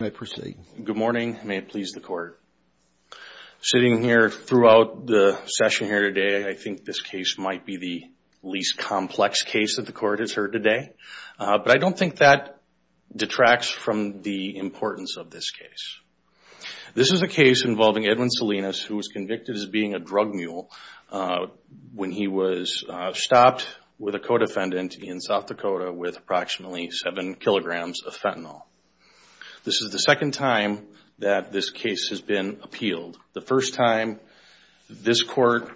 may proceed. Good morning. May it please the court. Sitting here throughout the session here today, I think this case might be the least complex case that the court has heard today, but I don't think that detracts from the importance of this case. This is a case involving Edwin Salinas, who was convicted as being a drug mule when he was stopped with a co-defendant in South Dakota with approximately seven kilograms of fentanyl. This is the second time that this case has been appealed. The first time, this court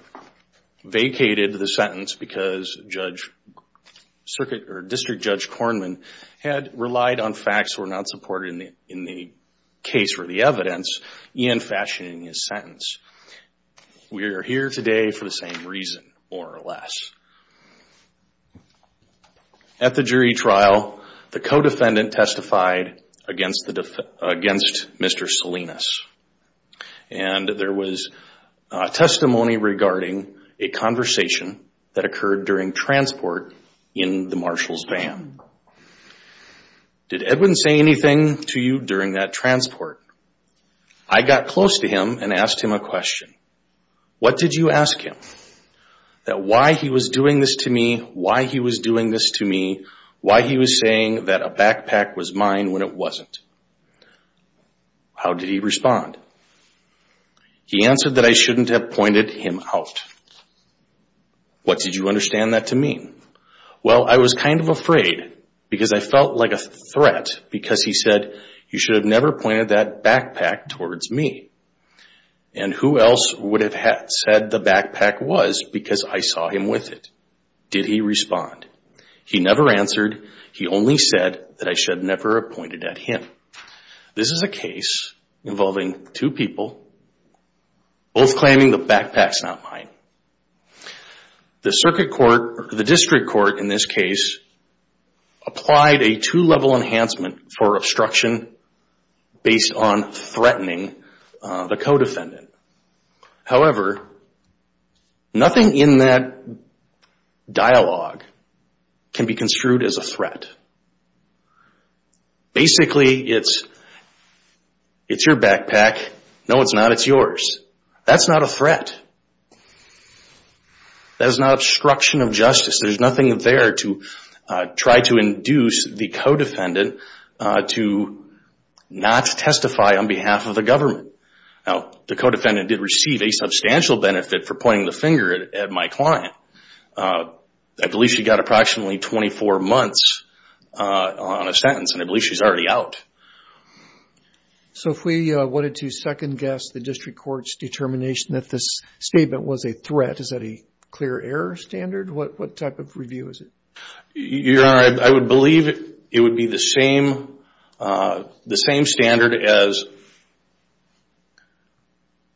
vacated the sentence because District Judge Kornman had relied on facts that were not supported in the case for the evidence, Ian fashioning his sentence. We are here today for the same reason, more or less. At the jury trial, the co-defendant testified against Mr. Salinas. There was testimony regarding a conversation that occurred during transport in the Marshall's van. Did Edwin say anything to you during that transport? I got close to him and asked him a question. What did you ask him? That why he was doing this to me, why he was doing this to me, why he was saying that a backpack was mine when it wasn't. How did he respond? He answered that I shouldn't have pointed him out. What did you understand that to mean? Well, I was kind of afraid because I felt like a threat because he said, you should have never pointed that backpack towards me. Who else would have said the backpack was because I saw him with it? Did he respond? He never answered. He only said that I should never have pointed at him. This is a case involving two people, both claiming the backpack is not mine. The backpack is mine based on threatening the co-defendant. However, nothing in that dialogue can be construed as a threat. Basically, it's your backpack. No, it's not. It's yours. That's not a threat. That is not obstruction of justice. There's nothing there to try to induce the co-defendant to not testify on behalf of the government. Now, the co-defendant did receive a substantial benefit for pointing the finger at my client. I believe she got approximately 24 months on a sentence and I believe she's already out. If we wanted to second guess the district court's determination that this statement was a threat, is that a clear error standard? What type of review is it? Your Honor, I would believe it would be the same standard as...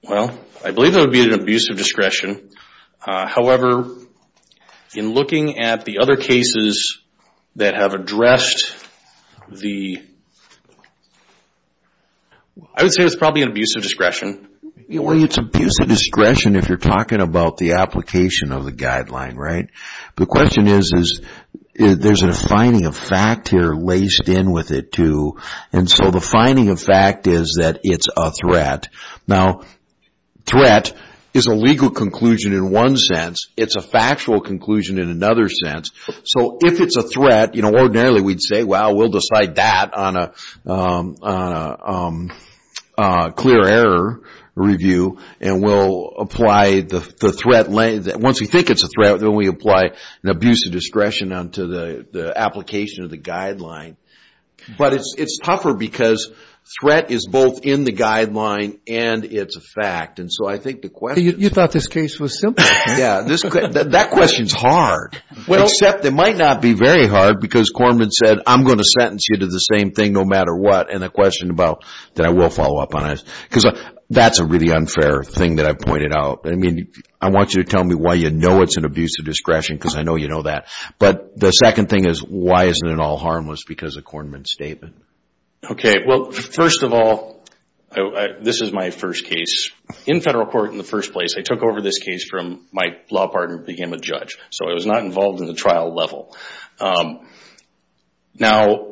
Well, I believe it would be an abuse of discretion. However, in looking at the other cases that have addressed the... I would say it's probably an abuse of discretion. Well, it's abuse of discretion if you're talking about the application of the guideline, right? The question is, there's a finding of fact here laced in with it too, and so the finding of fact is that it's a threat. Now, threat is a legal conclusion in one sense. It's a factual conclusion in another sense. So, if it's a threat, ordinarily we'd say, well, we'll decide that on a clear error review and we'll apply the threat... Once we think it's a threat, then we apply an abuse of discretion onto the application of the guideline. But it's tougher because threat is both in the guideline and it's a fact. And so I think the question... You thought this case was simple. Yeah. That question's hard, except it might not be very hard because Kornman said, I'm going to sentence you to the same thing no matter what. And the question about... Then I will follow up on it because that's a really unfair thing that I've pointed out. I mean, I want you to tell me why you know it's an abuse of discretion because I know you know that. But the second thing is, why isn't it all harmless because of Kornman's statement? Okay. Well, first of all, this is my first case. In federal court in the first place, I took over this case from my law partner who became a judge. So I was not involved in the trial level. Now,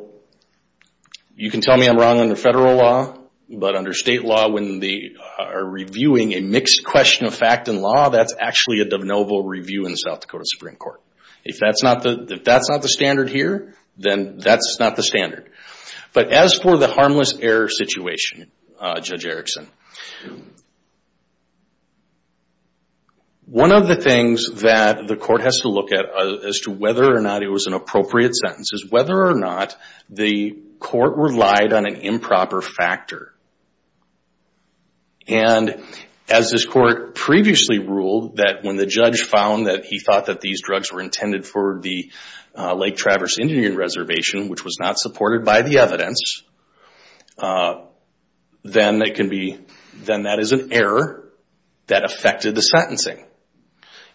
you can tell me I'm wrong under federal law. But under state law, when they are reviewing a mixed question of fact and law, that's actually a de novo review in the South Dakota Supreme Court. If that's not the standard here, then that's not the standard. But as for the harmless error situation, Judge Erickson, one of the things that the court has to look at as to whether or not it was an appropriate sentence is whether or not the court relied on an improper factor. And as this court previously ruled that when the judge found that he thought that these drugs were intended for the Lake Traverse Indian Reservation, which was not supported by the evidence, then that is an error that affected the sentencing.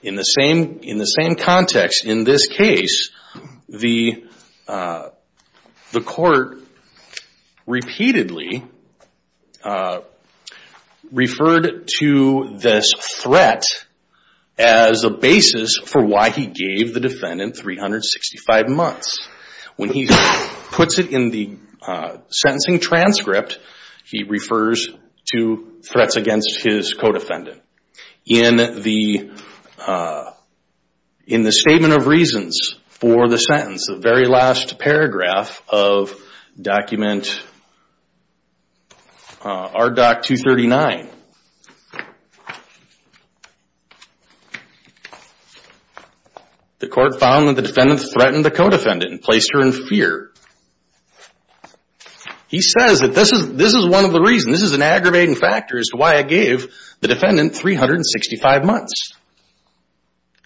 In the same context, in this case, the court repeatedly referred to this threat as a basis for why he gave the defendant 365 months. When he puts it in the sentencing transcript, he refers to threats against his co-defendant. In the statement of reasons for the sentence, the very last paragraph of document RDoC 239, the court says that the defendant was not threatened. The court found that the defendant threatened the co-defendant and placed her in fear. He says that this is one of the reasons, this is an aggravating factor as to why I gave the defendant 365 months.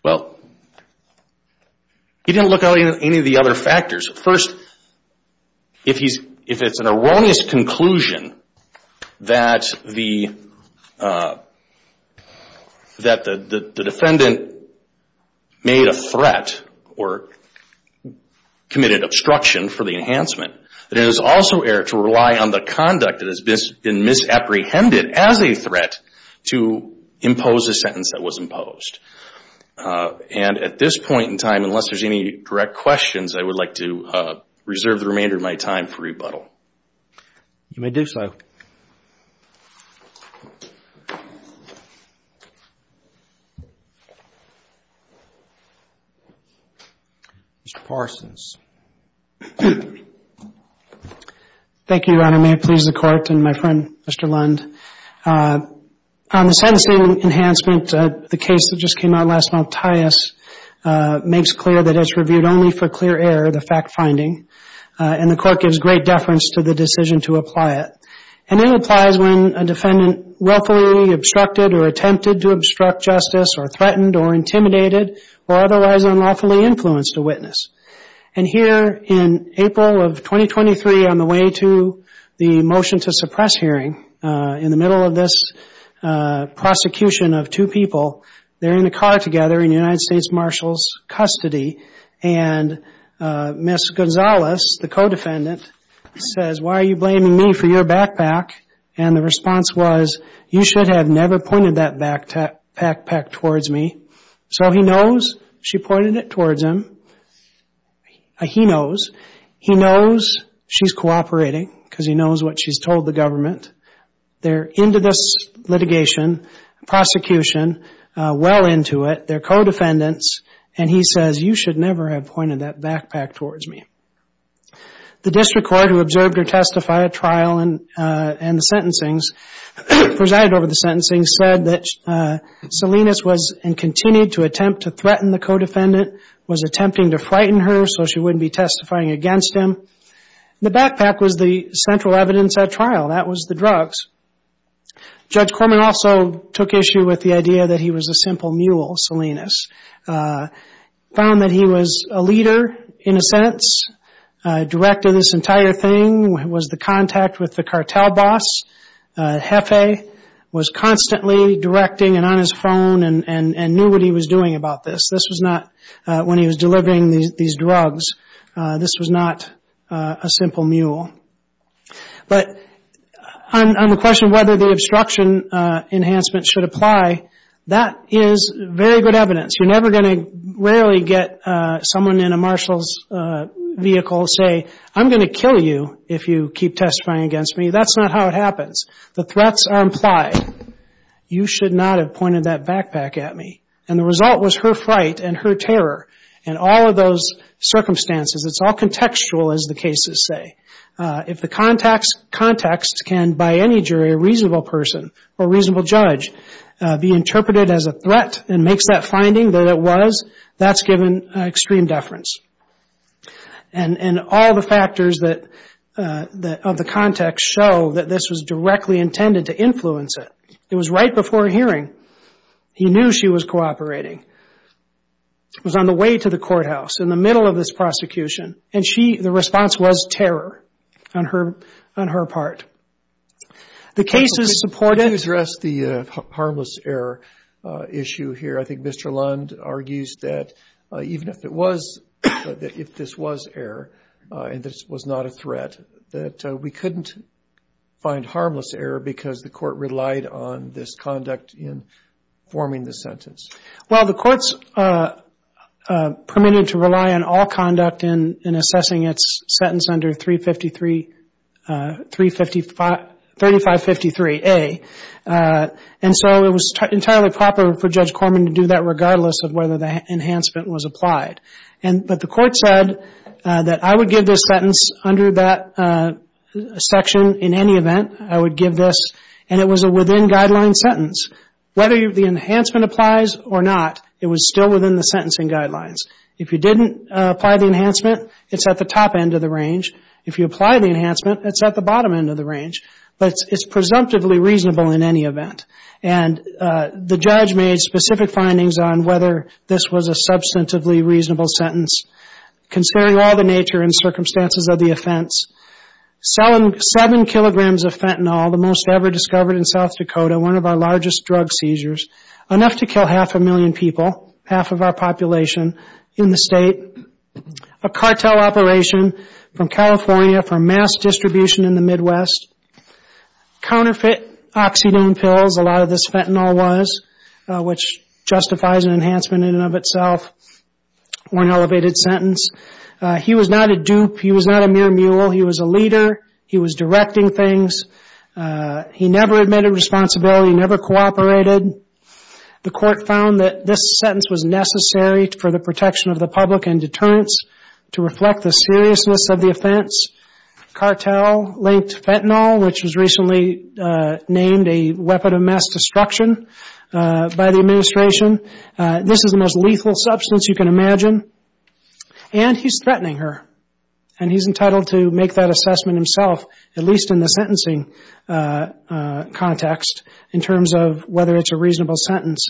Well, he didn't look at any of the other factors. First, if it's an erroneous conclusion that the defendant made on the grounds that the defendant was a threat or committed obstruction for the enhancement, it is also error to rely on the conduct that has been misapprehended as a threat to impose a sentence that was imposed. At this point in time, unless there's any direct questions, I would like to reserve the remainder of my time for rebuttal. Mr. Parsons. Thank you, Your Honor. May it please the Court and my friend, Mr. Lund. On the sentencing enhancement, the case that just came out last month, Tyus, makes clear that it's reviewed only for clear error, the fact-finding, and the Court gives great deference to the decision to apply it. And it applies when a defendant willfully obstructed or attempted to obstruct justice or threatened or intimidated or otherwise unlawfully influenced a witness. And here in April of 2023, on the way to the motion to suppress hearing, in the middle of this prosecution of two people, they're in a car together in United States Marshals' custody, and Ms. Gonzalez, the co-defendant, says, why are you blaming me for your backpack? And the response was, you should have never pointed that backpack towards me. So he knows she pointed it towards him. He knows. He knows she's cooperating because he knows what she's told the government. They're into this litigation, prosecution, well into it. They're co-defendants, and he says, you should never have pointed that backpack towards me. The district court who observed her testify at trial and the sentencings, presided over the sentencing, said that Salinas was and continued to attempt to threaten the co-defendant, was attempting to frighten her so she wouldn't be testifying against him. The backpack was the central evidence at trial. That was the drugs. Judge Corman also took issue with the idea that he was a simple mule, Salinas. Found that he was a leader, in a sense, director of this entire thing, was the contact with the cartel boss, Hefei, was constantly directing and on his phone and knew what he was doing about this. This was not, when he was delivering these drugs, this was not a simple mule. But on the question whether the obstruction enhancement should apply, that is very good evidence. You're never going to rarely get someone in a marshal's vehicle say, I'm going to kill you if you keep testifying against me. That's not how it happens. The threats are implied. You should not have pointed that backpack at me. And the result was her fright and her terror and all of those circumstances. It's all contextual, as the cases say. If the context can, by any jury, a reasonable person or reasonable judge be interpreted as a threat and makes that finding that it was, that's given extreme deference. And all the factors that, of the context, show that this was directly intended to influence it. It was right before a hearing. He knew she was cooperating. It was on the way to the courthouse, in the middle of this prosecution, and she, the response was terror on her part. The cases supported... Robertson Can you address the harmless error issue here? I think Mr. Lund argues that even if it was, if this was error, and this was not a threat, that we couldn't find harmless error because the Court relied on this conduct in forming the sentence. Kagan Well, the Court's permitted to rely on all conduct in assessing its sentence under 353, 355, 3553A. And it's not a threat. It's not a threat. It's not a threat. And so it was entirely proper for Judge Corman to do that regardless of whether the enhancement was applied. And, but the Court said that I would give this sentence under that section in any event. I would give this, and it was a within-guideline sentence. Whether the enhancement applies or not, it was still within the sentencing guidelines. If you didn't apply the enhancement, it's at the top end of the range. If you apply the enhancement, it's at the bottom end of the range. But it's presumptively reasonable in any event. And the judge made specific findings on whether this was a substantively reasonable sentence. Considering all the nature and circumstances of the offense, selling 7 kilograms of fentanyl, the most ever discovered in South Dakota, one of our largest drug seizures, enough to kill half a million people, half of our population, in the state, a cartel operation from California for mass distribution in the Midwest, counterfeit oxygen pills, a lot of this fentanyl was, which justifies an enhancement in and of itself, one elevated sentence. He was not a dupe. He was not a mere mule. He was a leader. He was directing things. He never admitted responsibility. Never cooperated. The Court found that this sentence was necessary for the protection of the public and deterrence to reflect the seriousness of the offense. Cartel-linked fentanyl, which was recently named a weapon of mass destruction by the administration, this is the most lethal substance you can imagine. And he's threatening her. And he's entitled to make that assessment himself, at least in the sentencing context, in terms of whether it's a reasonable sentence.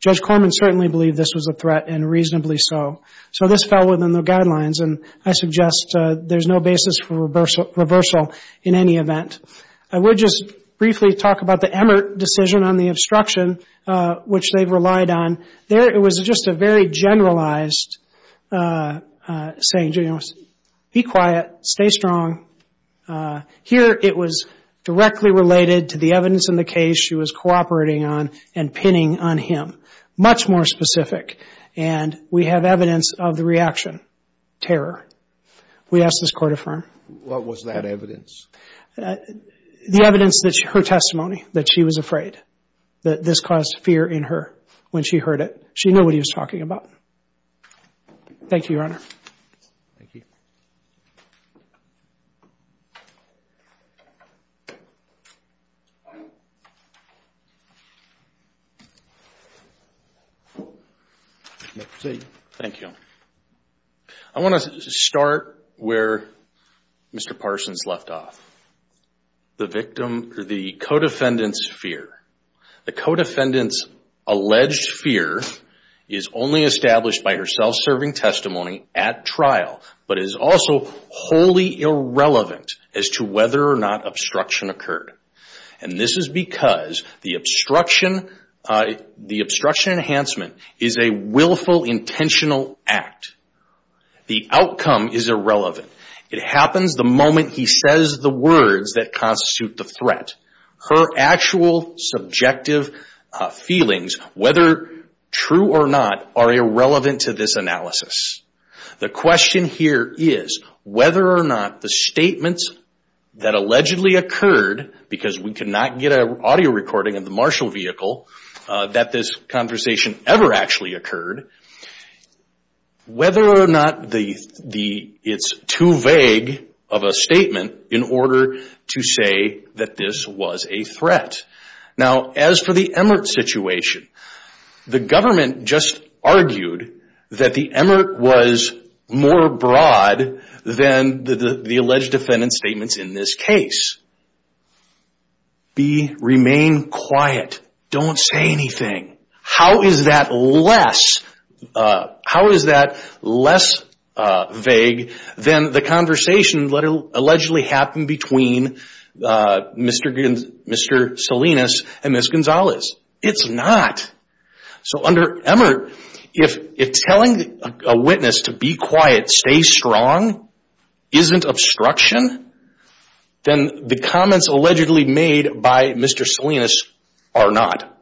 Judge Corman certainly believed this was a threat and reasonably so. So this fell within the guidelines, and I suggest there's no basis for reversal in any event. I would just briefly talk about the Emmert decision on the obstruction, which they've relied on. There, it was just a very generalized saying. Be quiet. Stay strong. Here, it was directly related to the evidence in the case she was cooperating on and pinning on him. Much more specific, and we have evidence of the reaction, terror. We ask this Court affirm. What was that evidence? The evidence that her testimony, that she was afraid, that this caused fear in her when she heard it. She knew what he was talking about. Thank you, Your Honor. Thank you. I want to start where Mr. Parsons left off. The victim, the co-defendant's fear. The co-defendant's self-serving testimony at trial, but it is also wholly irrelevant as to whether or not obstruction occurred. This is because the obstruction enhancement is a willful, intentional act. The outcome is irrelevant. It happens the moment he says the words that constitute the threat. Her actual subjective feelings, whether true or not, are irrelevant to this analysis. The question here is whether or not the statements that allegedly occurred, because we cannot get an audio recording of the Marshall vehicle, that this conversation ever actually occurred, whether or not it is too vague of a statement in order to say that this was a threat. Now, as for the Emmerich situation, the government just argued that the Emmerich was more broad than the alleged defendant's statements in this case. Remain quiet. Don't say anything. How is that less vague than the conversation that allegedly happened between Mr. Sullivan Salinas and Ms. Gonzalez? It's not. So under Emmerich, if telling a witness to be quiet, stay strong, isn't obstruction, then the comments allegedly made by Mr. Salinas are not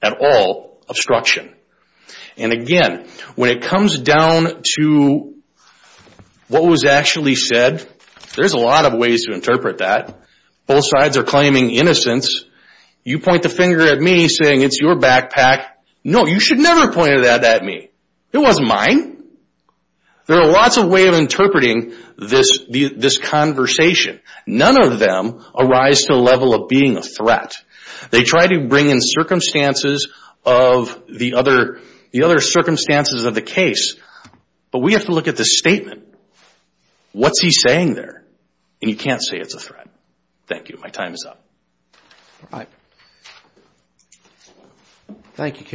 at all obstruction. And again, when it comes down to what was actually said, there's a lot of ways to interpret that. Both sides are claiming innocence. You point the finger at me saying it's your backpack. No, you should never point that at me. It wasn't mine. There are lots of ways of interpreting this conversation. None of them arise to the level of being a threat. They try to bring in circumstances of the other circumstances of the case, but we have to look at the statement. What's he saying there? And you can't say it's a threat. Thank you. My time is up.